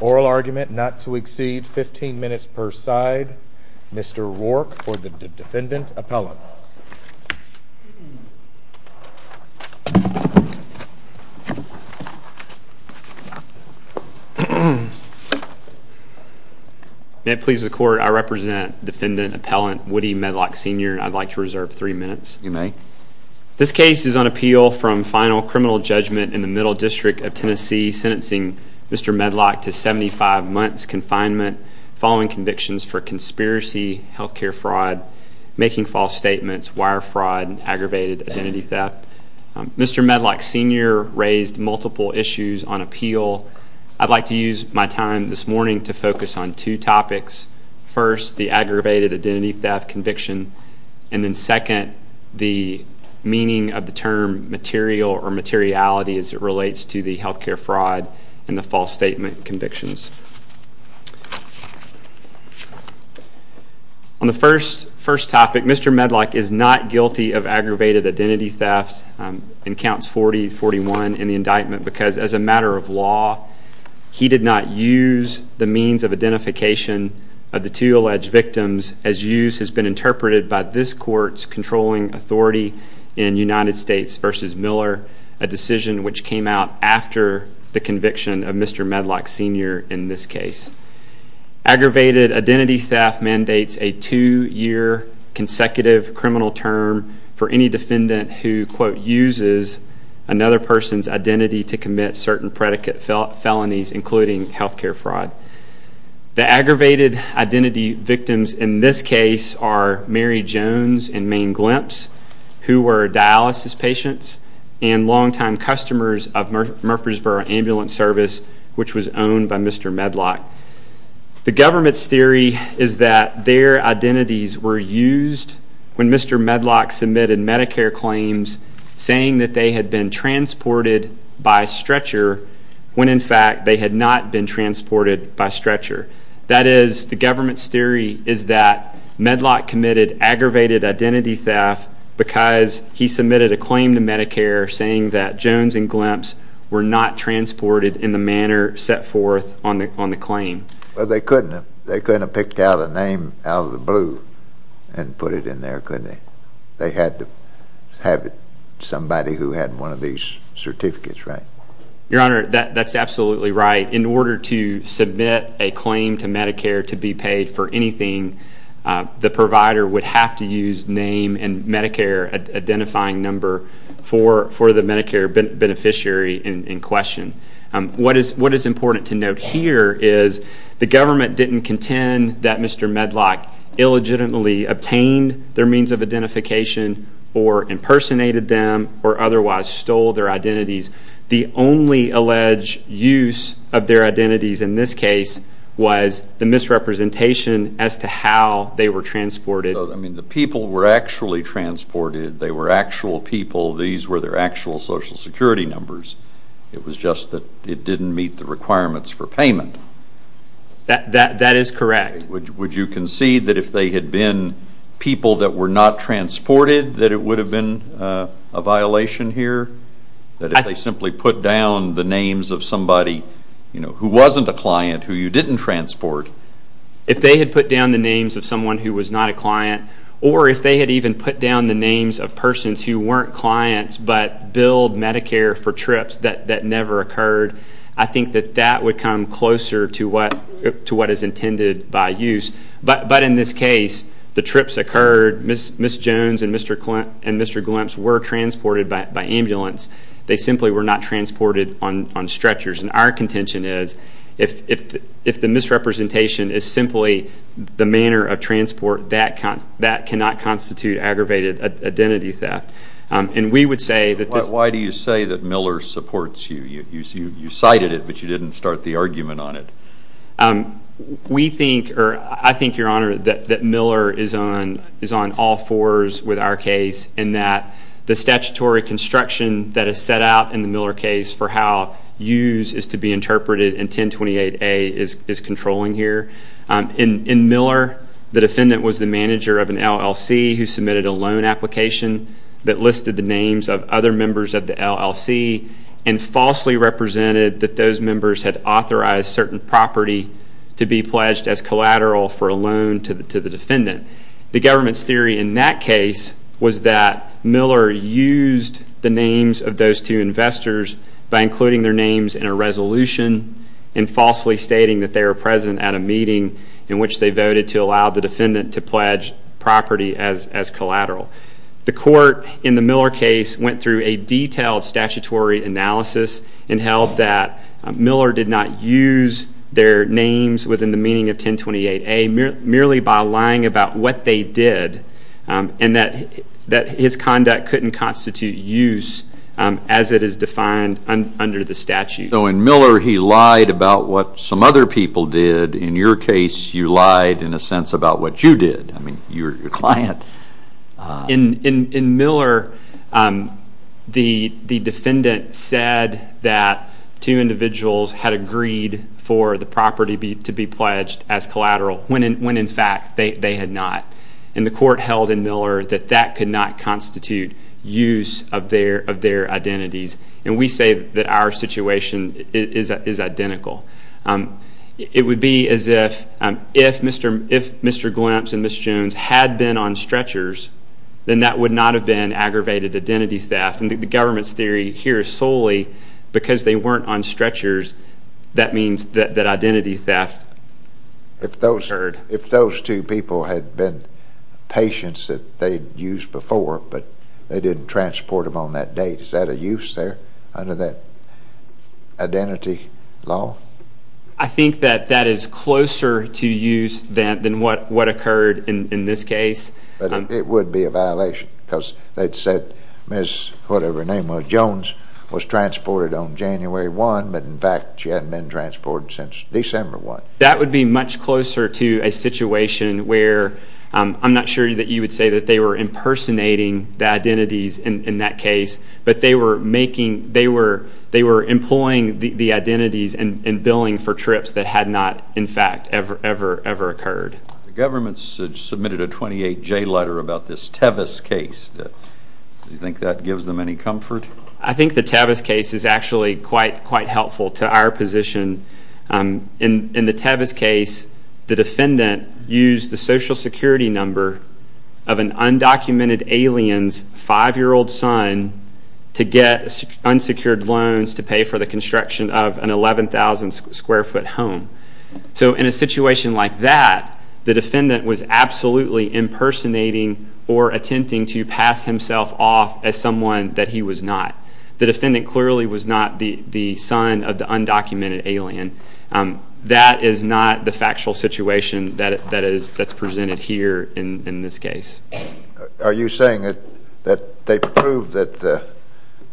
Oral argument not to exceed 15 minutes per side. Mr. Rourke for the Defendant Appellant. May it please the Court, I represent Defendant Appellant Woody Medlock Sr and I'd like to reserve three minutes. You may. This case is on appeal from final criminal judgment in the Middle District of Tennessee sentencing Mr. Medlock to 75 months confinement following convictions for conspiracy, health care fraud, making false statements, wire fraud, and aggravated identity theft. Mr. Medlock Sr raised multiple issues on appeal. I'd like to use my time this morning to focus on two topics. First, the aggravated identity theft conviction and then second, the meaning of the term material or materiality as it relates to the health care fraud and the false statement convictions. Mr. Medlock is not guilty of aggravated identity theft in counts 40-41 in the indictment because as a matter of law he did not use the means of identification of the two alleged victims as used has been interpreted by this court's controlling authority in United States v. Miller, a decision which came out after the conviction of Mr. Medlock Sr in this case. Aggravated identity theft mandates a two-year consecutive criminal term for any defendant who quote uses another person's identity to commit certain predicate felonies including health care fraud. The aggravated identity victims in this case are Mary Jones and Maine Glimpse who were dialysis patients and longtime customers of Murfreesboro Ambulance Service which was owned by Mr. Medlock. The government's theory is that their identities were used when Mr. Medlock submitted Medicare claims saying that they had been transported by stretcher when in fact they had not been transported by stretcher. That is the government's theory is that Medlock committed aggravated identity theft because he submitted a claim to Medicare saying that Jones and Glimpse were not transported in the manner set forth on the claim. Well, they couldn't have picked out a name out of the blue and put it in there, couldn't they? They had to have somebody who had one of these certificates, right? Your Honor, that's absolutely right. In order to name and Medicare identifying number for the Medicare beneficiary in question. What is important to note here is the government didn't contend that Mr. Medlock illegitimately obtained their means of identification or impersonated them or otherwise stole their identities. The only alleged use of their identities in this case was the misrepresentation as to how they were transported. I mean, the people were actually transported. They were actual people. These were their actual Social Security numbers. It was just that it didn't meet the requirements for payment. That is correct. Would you concede that if they had been people that were not transported that it would have been a violation here? That if they simply put down the names of somebody who wasn't a client who you didn't transport. If they had put down the names of someone who was not a client or if they had even put down the names of persons who weren't clients but billed Medicare for trips that never occurred, I think that that would come closer to what is intended by use. But in this case, the trips occurred. Ms. Jones and Mr. Glimpse were transported by ambulance. They simply were not transported on stretchers. And our contention is if the misrepresentation is simply the manner of transport, that cannot constitute aggravated identity theft. And we would say that this... Why do you say that Miller supports you? You cited it, but you didn't start the argument on it. We think, or I think, Your Honor, that Miller is on all fours with our case in that the statutory construction that is set out in the Miller case for how use is to be interpreted in 1028A is controlling here. In Miller, the defendant was the manager of an LLC who submitted a loan application that listed the names of other members of the LLC and falsely represented that those members had authorized certain property to be pledged as collateral for a loan to the defendant. The government's theory in that case was that Miller used the names of those two investors by including their names in a resolution and falsely stating that they were present at a meeting in which they voted to allow the defendant to pledge property as collateral. The court in the Miller their names within the meaning of 1028A merely by lying about what they did and that his conduct couldn't constitute use as it is defined under the statute. So in Miller, he lied about what some other people did. In your case, you lied, in a sense, about what you did, I mean, your client. In Miller, the defendant said that two individuals had agreed for the property to be pledged as collateral when in fact they had not. And the court held in Miller that that could not constitute use of their identities. And we say that our situation is identical. It would be as if Mr. Glimpse and Ms. Jones had been on stretchers, then that would not have been aggravated identity theft. And the government's theory here is because they weren't on stretchers, that means that identity theft occurred. If those two people had been patients that they'd used before but they didn't transport them on that date, is that a use there under that identity law? I think that that is closer to use than what occurred in this case. But it would be a violation because they'd said Ms. whatever on January 1, but in fact she hadn't been transported since December 1. That would be much closer to a situation where, I'm not sure that you would say that they were impersonating the identities in that case, but they were employing the identities and billing for trips that had not, in fact, ever occurred. The government submitted a 28-J letter about this that gives them any comfort? I think the Tevis case is actually quite helpful to our position. In the Tevis case, the defendant used the social security number of an undocumented alien's 5-year-old son to get unsecured loans to pay for the construction of an 11,000-square-foot home. So in a situation like that, the defendant was absolutely impersonating or attempting to pass himself off as someone that he was not. The defendant clearly was not the son of the undocumented alien. That is not the factual situation that is presented here in this case. Are you saying that they proved that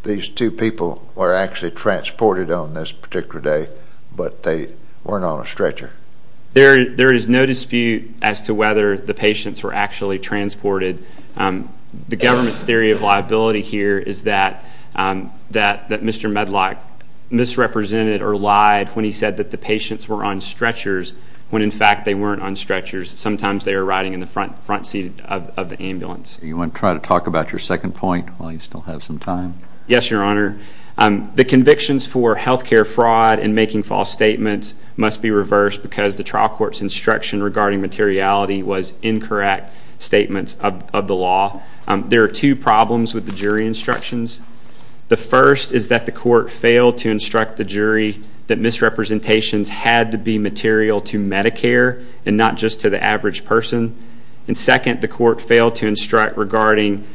these two people were actually transported on this particular day, but they weren't on a stretcher? There is no dispute as to whether the patients were actually transported. The government's theory of liability here is that Mr. Medlock misrepresented or lied when he said that the patients were on stretchers when, in fact, they weren't on stretchers. Sometimes they were riding in the front seat of the ambulance. Do you want to try to talk about your second point while you still have some time? Yes, Your Honor. The convictions for health care fraud and making false statements must be reversed because the trial court's instruction regarding materiality was incorrect statements of the law. There are two problems with the jury instructions. The first is that the court failed to instruct the jury that misrepresentations had to be material to Medicare and not just to the average person. And second, the court failed to instruct regarding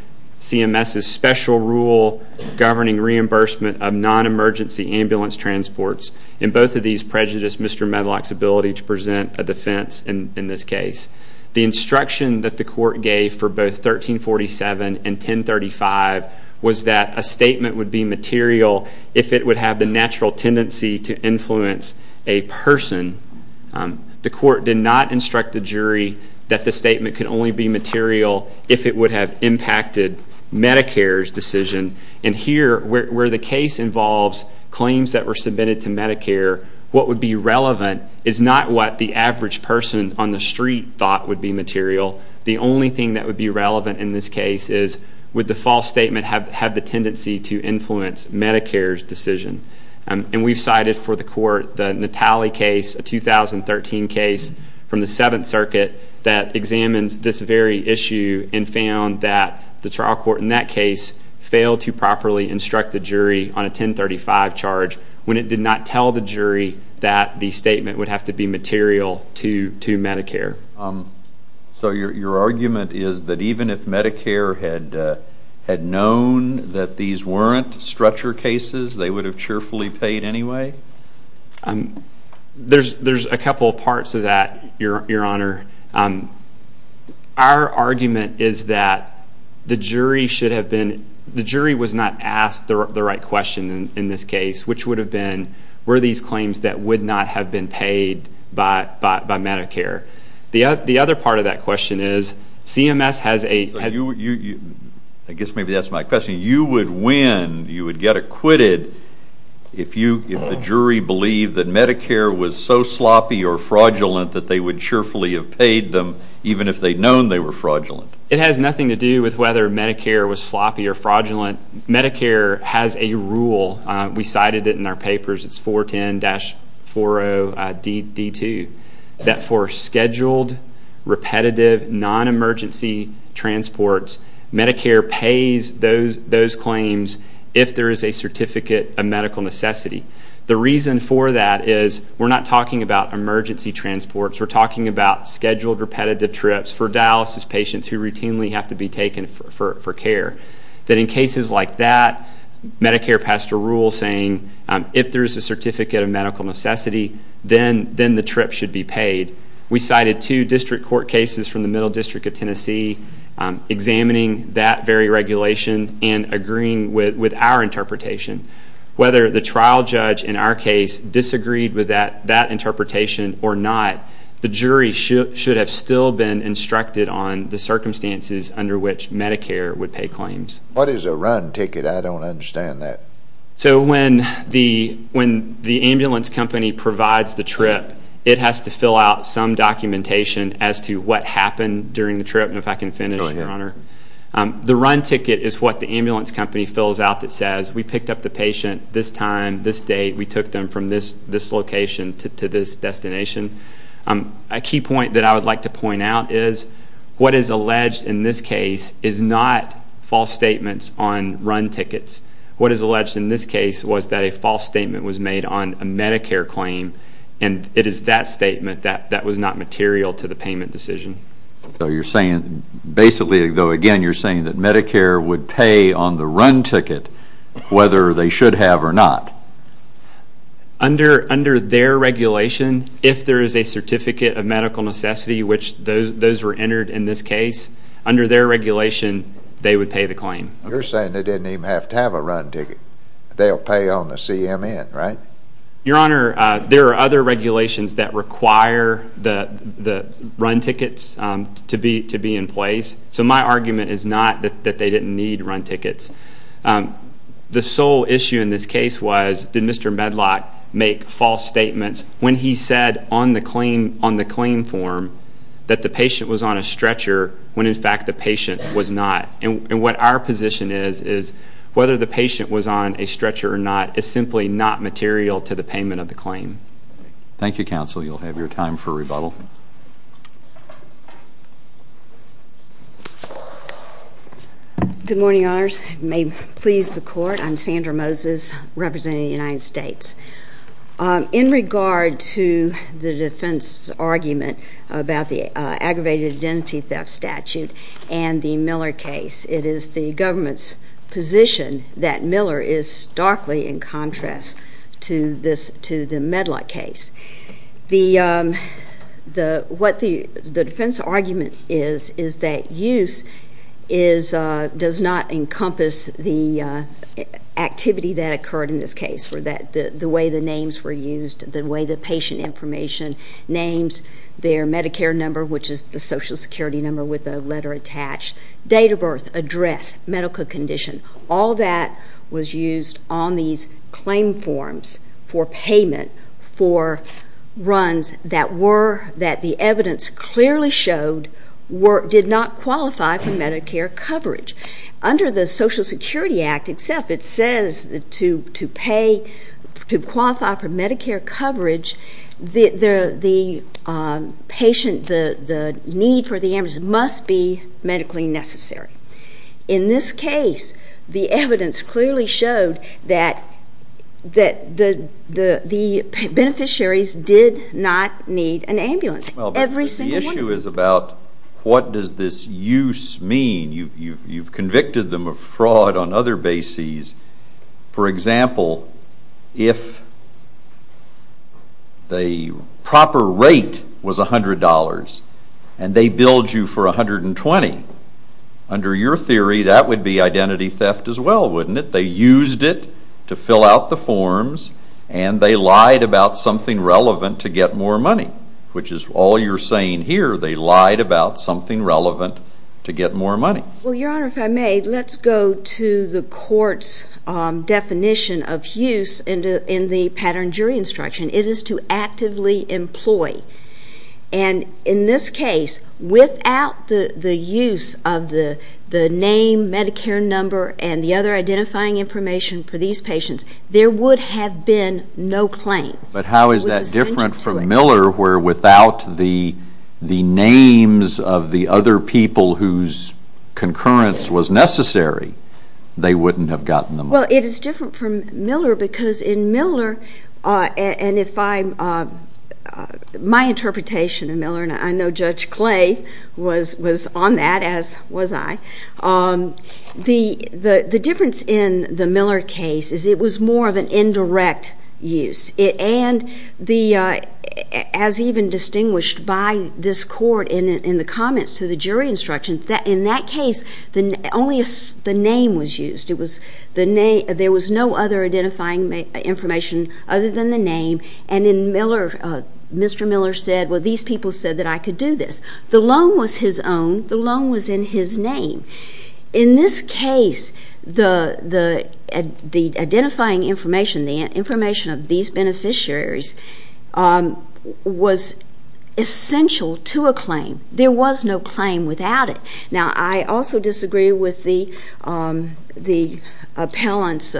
CMS's special rule governing reimbursement of non-emergency ambulance transports. And both of these prejudice Mr. Medlock's ability to present a defense in this case. The instruction that the court gave for both 1347 and 1035 was that a statement would be material if it would have the natural tendency to influence a person. The court did not instruct the jury that the statement could only be material if it would have impacted Medicare's decision. And here, where the case involves claims that were submitted to Medicare, what would be relevant is not what the average person on the street thought would be material. The only thing that would be relevant in this case is would the false statement have the tendency to influence Medicare's decision. And we've cited for the court the Natale case, a 2013 case from the Seventh Circuit that examines this very issue and found that the trial court in that case failed to properly instruct the jury on a 1035 charge when it did not tell the jury that the statement would have to be material to Medicare. So your argument is that even if Medicare had known that these weren't stretcher cases they would have cheerfully paid anyway? There's a couple of parts to that, your honor. Our argument is that the jury should have been, the jury was not asked the right question in this case, which would have been, were these claims that would not have been paid by Medicare? The other part of that question is CMS has a... I guess maybe that's my question. You would win, you would get acquitted if the jury believed that Medicare was so sloppy or fraudulent that they would cheerfully have paid them even if they'd known they were fraudulent. It has nothing to do with whether Medicare was sloppy or fraudulent. Medicare has a rule, we cited it in our papers, it's 410-40DD2, that for scheduled, repetitive, non-emergency transports, Medicare pays those claims if there is a certificate of medical necessity. The reason for that is we're not talking about emergency transports, we're talking about things that routinely have to be taken for care. That in cases like that, Medicare passed a rule saying if there's a certificate of medical necessity, then the trip should be paid. We cited two district court cases from the Middle District of Tennessee examining that very regulation and agreeing with our interpretation. Whether the trial judge in our case disagreed with that interpretation or not, the jury should have still been instructed on the circumstances under which Medicare would pay claims. What is a run ticket? I don't understand that. So when the ambulance company provides the trip, it has to fill out some documentation as to what happened during the trip, and if I can finish, Your Honor. The run ticket is what the ambulance company fills out that says, we picked up the patient this time, this date, we took them from this location to this destination. A key point that I would like to point out is, what is alleged in this case is not false statements on run tickets. What is alleged in this case was that a false statement was made on a Medicare claim, and it is that statement that was not material to the payment decision. So you're saying, basically, though again, you're saying that Medicare would pay on the run ticket whether they should have or not? Under their regulation, if there is a certificate of medical necessity, which those were entered in this case, under their regulation, they would pay the claim. You're saying they didn't even have to have a run ticket. They'll pay on the CMN, right? Your Honor, there are other regulations that require the run tickets to be in place. So my argument is not that they didn't need run tickets. The sole issue in this case was, did Mr. Medlock make false statements when he said on the claim form that the patient was on a stretcher when, in fact, the patient was not? And what our position is, is whether the patient was on a stretcher or not is simply not material to the payment of the claim. Thank you, Counsel. You'll have your time for rebuttal. Good morning, Your Honors. It may please the Court. I'm Sandra Moses, representing the United States. In regard to the defense argument about the aggravated identity theft statute and the Miller case, it is the government's position that Miller is starkly in contrast to the Medlock case. The defense argument is that use does not encompass the activity that occurred in this case, the way the names were used, the way the patient information names, their Medicare number, which is the Social Security number with the letter attached, date of birth, address, medical condition. All that was used on these claim forms for payment for runs that the evidence clearly showed did not qualify for Medicare coverage. Under the Social Security Act itself, it says to qualify for Medicare coverage, the need for the amortization must be medically necessary. In this case, the evidence clearly showed that the beneficiaries did not need an ambulance. Every single one of them. The issue is about what does this use mean? You've convicted them of fraud on other bases. For example, if the proper rate was $100 and they billed you for $120, under your theory, that would be identity theft as well, wouldn't it? They used it to fill out the forms and they lied about something relevant to get more money, which is all you're saying here. They lied about something relevant to get more money. Your Honor, if I may, let's go to the court's definition of use in the pattern jury instruction. It is to actively employ. In this case, without the use of the name, Medicare number, and the other identifying information for these patients, there would have been no claim. But how is that different from Miller, where without the names of the other people whose concurrence was necessary, they wouldn't have gotten the money? Well, it is different from Miller because in Miller, and if I'm, my interpretation of Miller, and I know Judge Clay was on that, as was I, the difference in the Miller case is it was more of an indirect use. And as even distinguished by this court in the comments to the jury instruction, in that case, only the name was used. There was no other identifying information other than the name. And in Miller, Mr. Miller said, well, these people said that I could do this. The loan was his own. The loan was in his name. In this case, the identifying information, the information of these beneficiaries, was essential to a claim. There was no claim without it. Now, I also disagree with the appellant's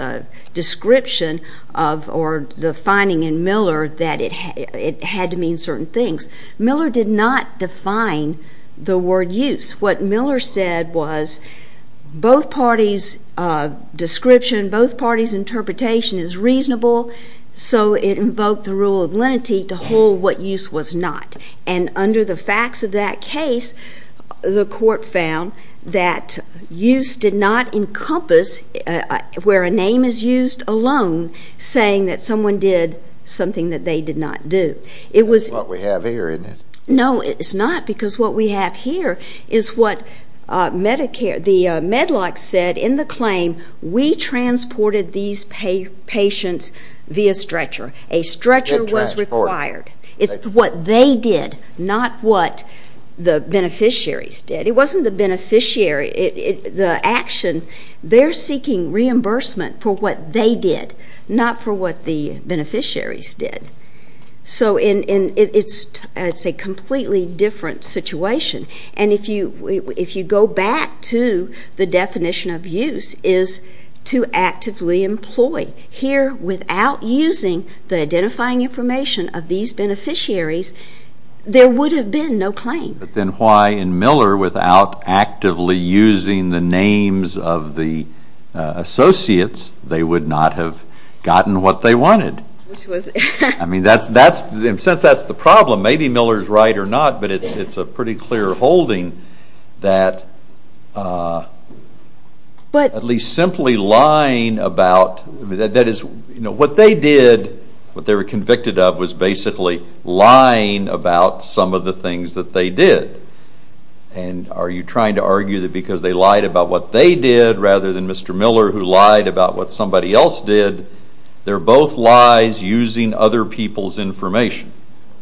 description of, or the finding in Miller, that it had to mean certain things. Miller did not define the word use. What Miller said was both parties' description, both parties' interpretation is reasonable, so it invoked the rule of lenity to hold what use was not. And under the facts of that case, the court found that use did not encompass, where a name is used alone, saying that someone did something that they did not do. It was... That's what we have here, isn't it? No, it's not, because what we have here is what Medicare, the Medlock said in the claim, we transported these patients via stretcher. A stretcher was required. It's what they did, not what the beneficiaries did. It wasn't the beneficiary, the action. They're seeking reimbursement for what they did, not for what the beneficiaries did. So it's a completely different situation. And if you go back to the definition of use is to actively employ. Here without using the identifying information of these beneficiaries, there would have been no claim. But then why in Miller, without actively using the names of the associates, they would not have gotten what they wanted? Which was... I mean, that's... In a sense, that's the problem. Maybe Miller's right or not, but it's a pretty clear holding that at least simply lying about... You know, what they did, what they were convicted of was basically lying about some of the things that they did. And are you trying to argue that because they lied about what they did rather than Mr. Miller who lied about what somebody else did, they're both lies using other people's information,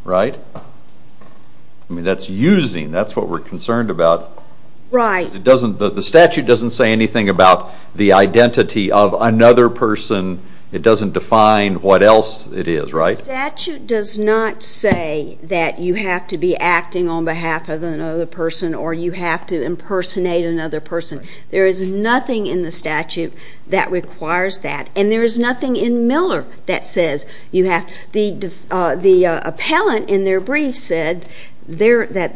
right? I mean, that's using, that's what we're concerned about. Right. It doesn't... The statute doesn't say anything about the identity of another person. It doesn't define what else it is, right? Statute does not say that you have to be acting on behalf of another person or you have to impersonate another person. There is nothing in the statute that requires that. And there is nothing in Miller that says you have... The appellant in their brief said that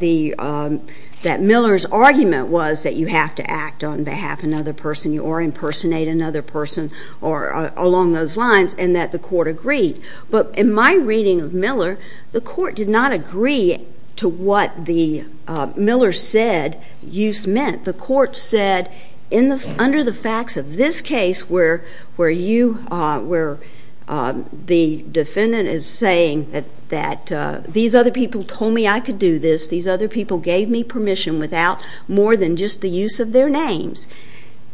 Miller's argument was that you have to act on behalf of another person or impersonate another person or along those lines and that the court agreed. But in my reading of Miller, the court did not agree to what the Miller said you meant. The court said under the facts of this case where you, where the defendant is saying that these other people told me I could do this, these other people gave me permission without more than just the use of their names,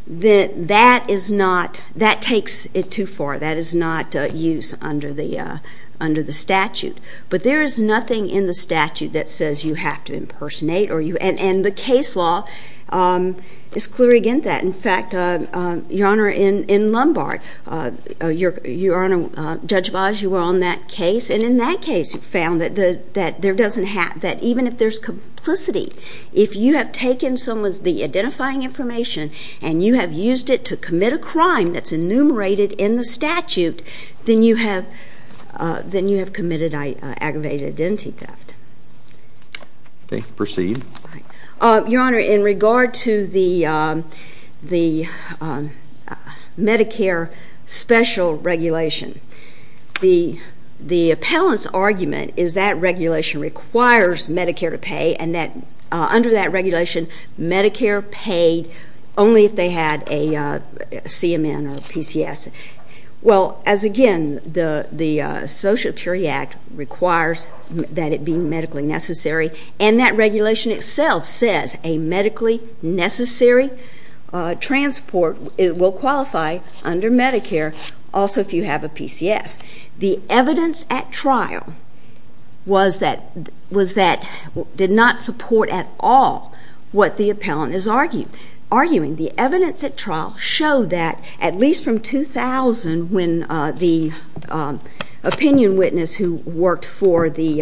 that that is not, that takes it too far. That is not use under the statute. But there is nothing in the statute that says you have to impersonate or you... And the case law is clear against that. In fact, Your Honor, in Lombard, Your Honor, Judge Baez, you were on that case and in that case you found that there doesn't have, that even if there's complicity, if you have taken someone's, the identifying information and you have used it to commit a crime that's enumerated in the statute, then you have, then you have committed aggravated identity theft. Okay. Proceed. All right. Your Honor, in regard to the Medicare special regulation, the appellant's argument is that regulation requires Medicare to pay and that under that regulation, Medicare paid only if they had a CMN or a PCS. Well, as again, the Social Security Act requires that it be medically necessary and that regulation itself says a medically necessary transport will qualify under Medicare also if you have a PCS. The evidence at trial was that, was that, did not support at all what the appellant is arguing. The evidence at trial showed that at least from 2000 when the opinion witness who worked for the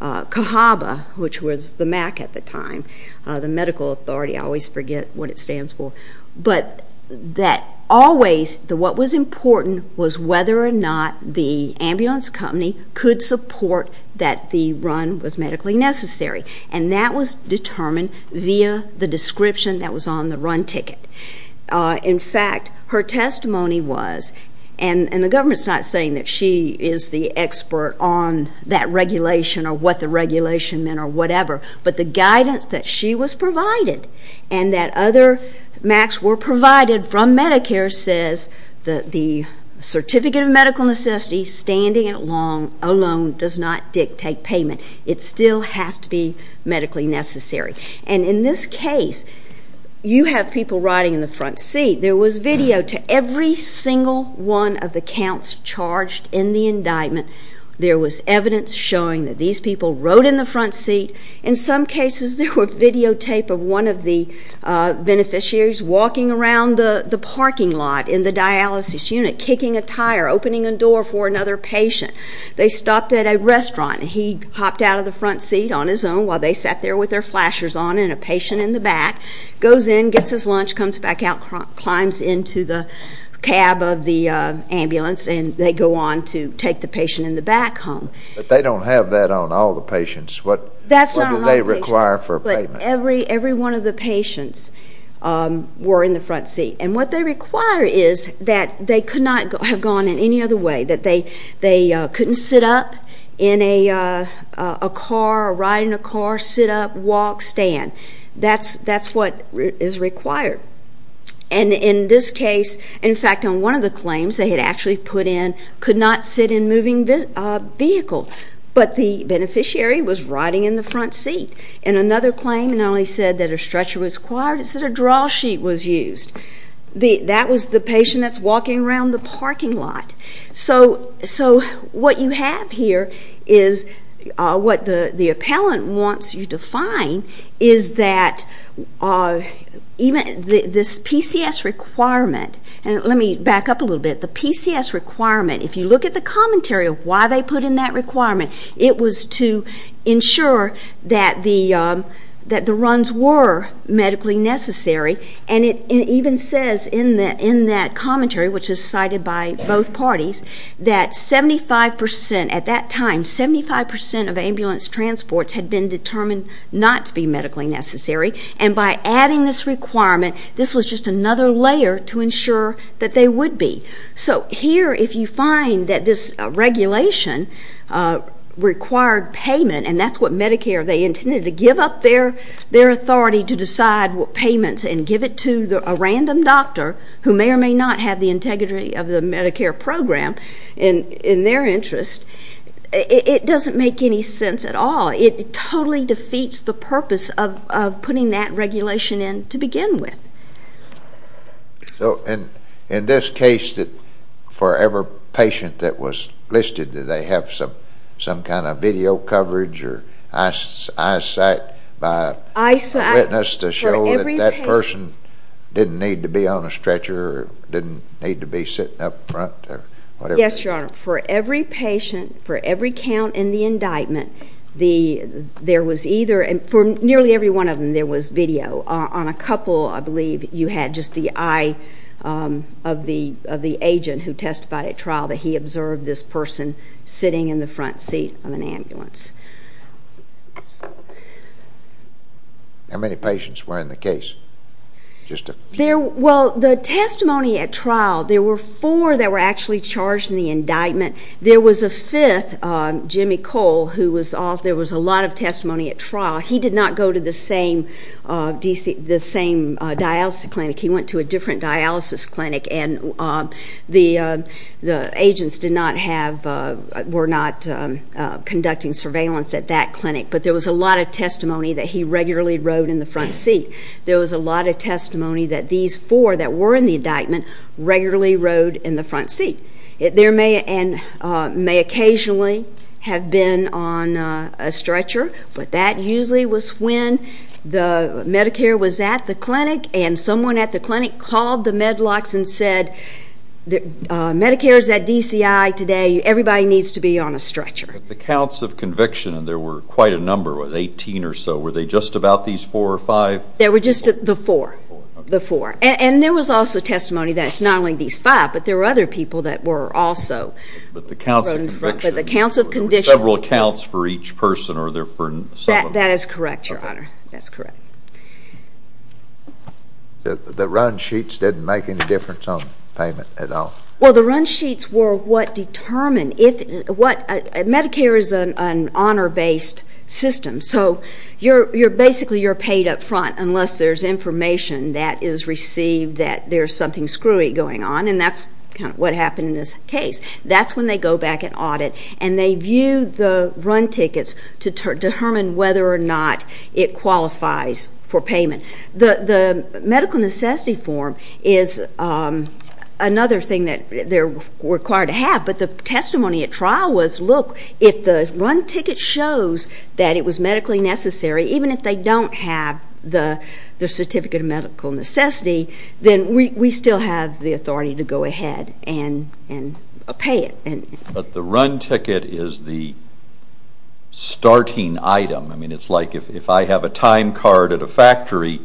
CAHABA, which was the MAC at the time, the medical authority, I always forget what it stands for, but that always what was important was whether or not the ambulance company could support that the run was medically necessary and that was determined via the description that was on the run ticket. In fact, her testimony was, and the government's not saying that she is the expert on that regulation or what the regulation meant or whatever, but the guidance that she was provided and that other MACs were provided from Medicare says that the certificate of medical necessity standing alone does not dictate payment. It still has to be medically necessary. And in this case, you have people riding in the front seat. There was video to every single one of the counts charged in the indictment. There was evidence showing that these people rode in the front seat. In some cases, there were videotape of one of the beneficiaries walking around the parking lot in the dialysis unit, kicking a tire, opening a door for another patient. They stopped at a restaurant and he hopped out of the front seat on his own while they sat there with their flashers on and a patient in the back goes in, gets his lunch, comes back out, climbs into the cab of the ambulance and they go on to take the patient in the back home. But they don't have that on all the patients. What do they require for payment? Every one of the patients were in the front seat. And what they require is that they could not have gone in any other way, that they couldn't sit up in a car, ride in a car, sit up, walk, stand. That's what is required. And in this case, in fact, on one of the claims they had actually put in, could not sit in moving vehicle. But the beneficiary was riding in the front seat. And another claim not only said that a stretcher was required, it said a draw sheet was used. That was the patient that's walking around the parking lot. So what you have here is what the appellant wants you to find is that even this PCS requirement, and let me back up a little bit, the PCS requirement, if you look at the commentary of why they put in that requirement, it was to ensure that the runs were medically necessary. And it even says in that commentary, which is cited by both parties, that 75 percent at that time, 75 percent of ambulance transports had been determined not to be medically necessary. And by adding this requirement, this was just another layer to ensure that they would be. So here, if you find that this regulation required payment, and that's what Medicare, they intended to give up their authority to decide what payments and give it to a random doctor who may or may not have the integrity of the Medicare program in their interest, it doesn't make any sense at all. It totally defeats the purpose of putting that regulation in to begin with. So in this case, for every patient that was listed, did they have some kind of video coverage or eyesight by a witness to show that that person didn't need to be on a stretcher or didn't need to be sitting up front or whatever? Yes, Your Honor. For every patient, for every count in the indictment, there was either, for nearly every one of them, there was video. On a couple, I believe, you had just the eye of the agent who testified at trial that he How many patients were in the case? Just a few. Well, the testimony at trial, there were four that were actually charged in the indictment. There was a fifth, Jimmy Cole, who was, there was a lot of testimony at trial. He did not go to the same dialysis clinic. He went to a different dialysis clinic, and the agents did not have, were not conducting surveillance at that clinic, but there was a lot of testimony that he regularly rode in the front seat. There was a lot of testimony that these four that were in the indictment regularly rode in the front seat. There may occasionally have been on a stretcher, but that usually was when the Medicare was at the clinic, and someone at the clinic called the med locks and said, Medicare's at DCI today. Everybody needs to be on a stretcher. But the counts of conviction, and there were quite a number, 18 or so, were they just about these four or five? They were just the four. The four. And there was also testimony that it's not only these five, but there were other people that were also. But the counts of conviction, there were several counts for each person, or there were some of them. That is correct, Your Honor. That's correct. The run sheets didn't make any difference on payment at all? Well, the run sheets were what determined if, what, Medicare is an honor-based system, so basically you're paid up front unless there's information that is received that there's something screwy going on, and that's kind of what happened in this case. That's when they go back and audit, and they view the run tickets to determine whether or not it qualifies for payment. The medical necessity form is another thing that they're required to have, but the testimony at trial was, look, if the run ticket shows that it was medically necessary, even if they don't have the certificate of medical necessity, then we still have the authority to go ahead and pay it. But the run ticket is the starting item. I mean, it's like if I have a time card at a factory,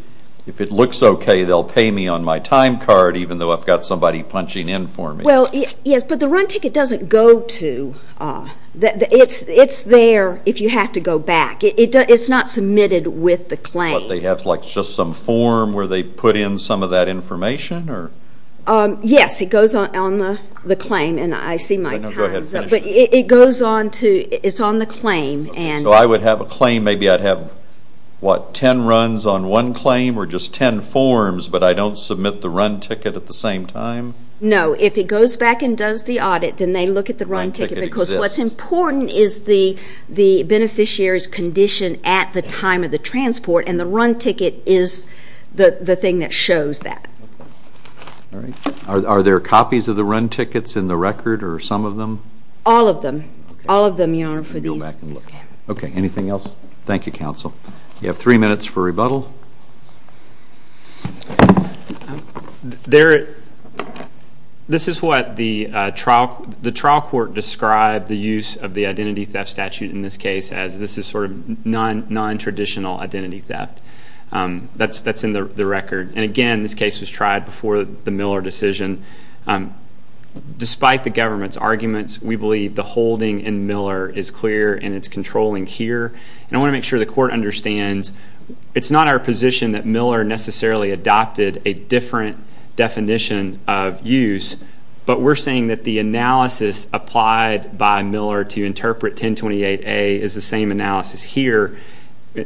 if it looks okay, they'll pay me on my time card, even though I've got somebody punching in for me. Well, yes, but the run ticket doesn't go to, it's there if you have to go back. It's not submitted with the claim. But they have, like, just some form where they put in some of that information, or? Yes, it goes on the claim, and I see my time's up, but it goes on to, it's on the claim. So I would have a claim, maybe I'd have, what, ten runs on one claim, or just ten forms, but I don't submit the run ticket at the same time? No, if it goes back and does the audit, then they look at the run ticket, because what's important is the beneficiary's condition at the time of the transport, and the run ticket is the thing that shows that. Are there copies of the run tickets in the record, or some of them? All of them. All of them, Your Honor, for these. OK, anything else? Thank you, counsel. You have three minutes for rebuttal. This is what the trial court described the use of the identity theft statute in this case as. This is sort of non-traditional identity theft. That's in the record. And again, this case was tried before the Miller decision. Despite the government's arguments, we believe the holding in Miller is clear and it's controlling here. And I want to make sure the court understands, it's not our position that Miller necessarily adopted a different definition of use, but we're saying that the analysis applied by Miller to interpret 1028A is the same analysis here.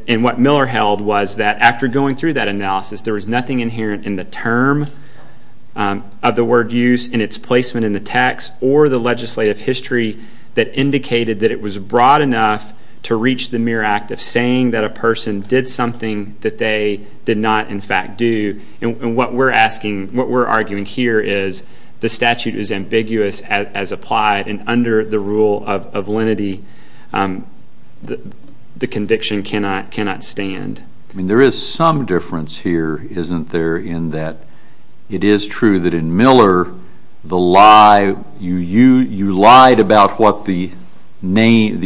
And what Miller held was that after going through that analysis, there was nothing inherent in the term of the word use in its placement in the text or the legislative history that indicated that it was broad enough to reach the mere act of saying that a person did something that they did not, in fact, do. And what we're arguing here is the statute is ambiguous as applied, and under the rule of lenity, the conviction cannot stand. There is some difference here, isn't there, in that it is true that in Miller, you lied about what the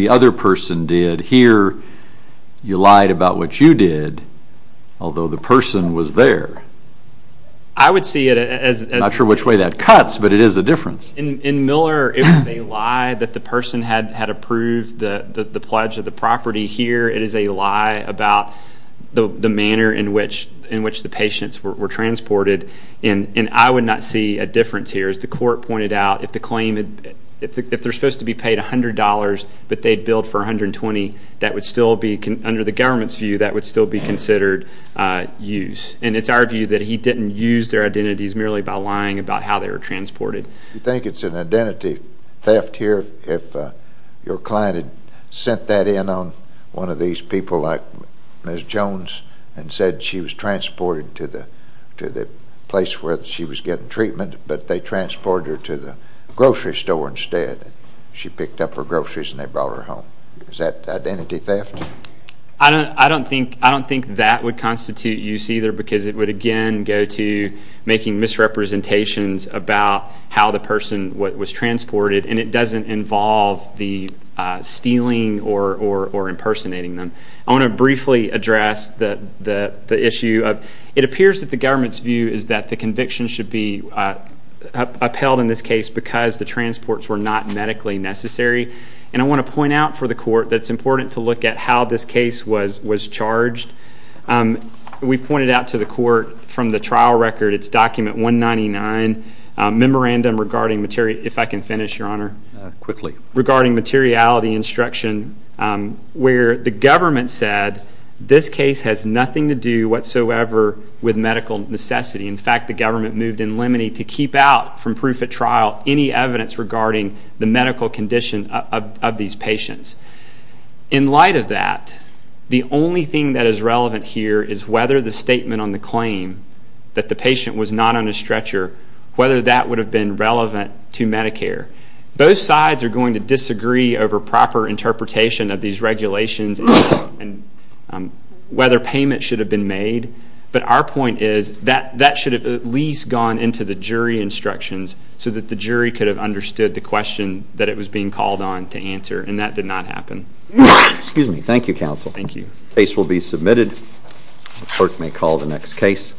other person did. Here, you lied about what you did, although the person was there. I would see it as... I'm not sure which way that cuts, but it is a difference. In Miller, it was a lie that the person had approved the pledge of the property. Here, it is a lie about the manner in which the patients were transported, and I would not see a difference here. As the court pointed out, if they're supposed to be paid $100, but they billed for $120, that would still be, under the government's view, that would still be considered use. And it's our view that he didn't use their identities merely by lying about how they were transported. Do you think it's an identity theft here if your client had sent that in on one of these people like Ms. Jones and said she was transported to the place where she was getting treatment, but they transported her to the grocery store instead? She picked up her groceries and they brought her home. Is that identity theft? I don't think that would constitute use either, because it would, again, go to making misrepresentations about how the person was transported, and it doesn't involve the stealing or impersonating them. I want to briefly address the issue of it appears that the government's view is that the conviction should be upheld in this case because the transports were not medically necessary, and I want to point out for the court that it's important to look at how this case was charged. We pointed out to the court from the trial record, it's document 199, memorandum regarding materiality instruction, where the government said this case has nothing to do whatsoever with medical necessity. In fact, the government moved in limine to keep out from proof at trial any evidence regarding the medical condition of these patients. In light of that, the only thing that is relevant here is whether the statement on the claim that the patient was not on a stretcher, whether that would have been relevant to Medicare. Both sides are going to disagree over proper interpretation of these regulations and whether payment should have been made, but our point is that that should have at least gone into the jury instructions so that the jury could have understood the question that it was being called on to answer, and that did not happen. Excuse me. Thank you, counsel. Thank you. The case will be submitted. The clerk may call the next case.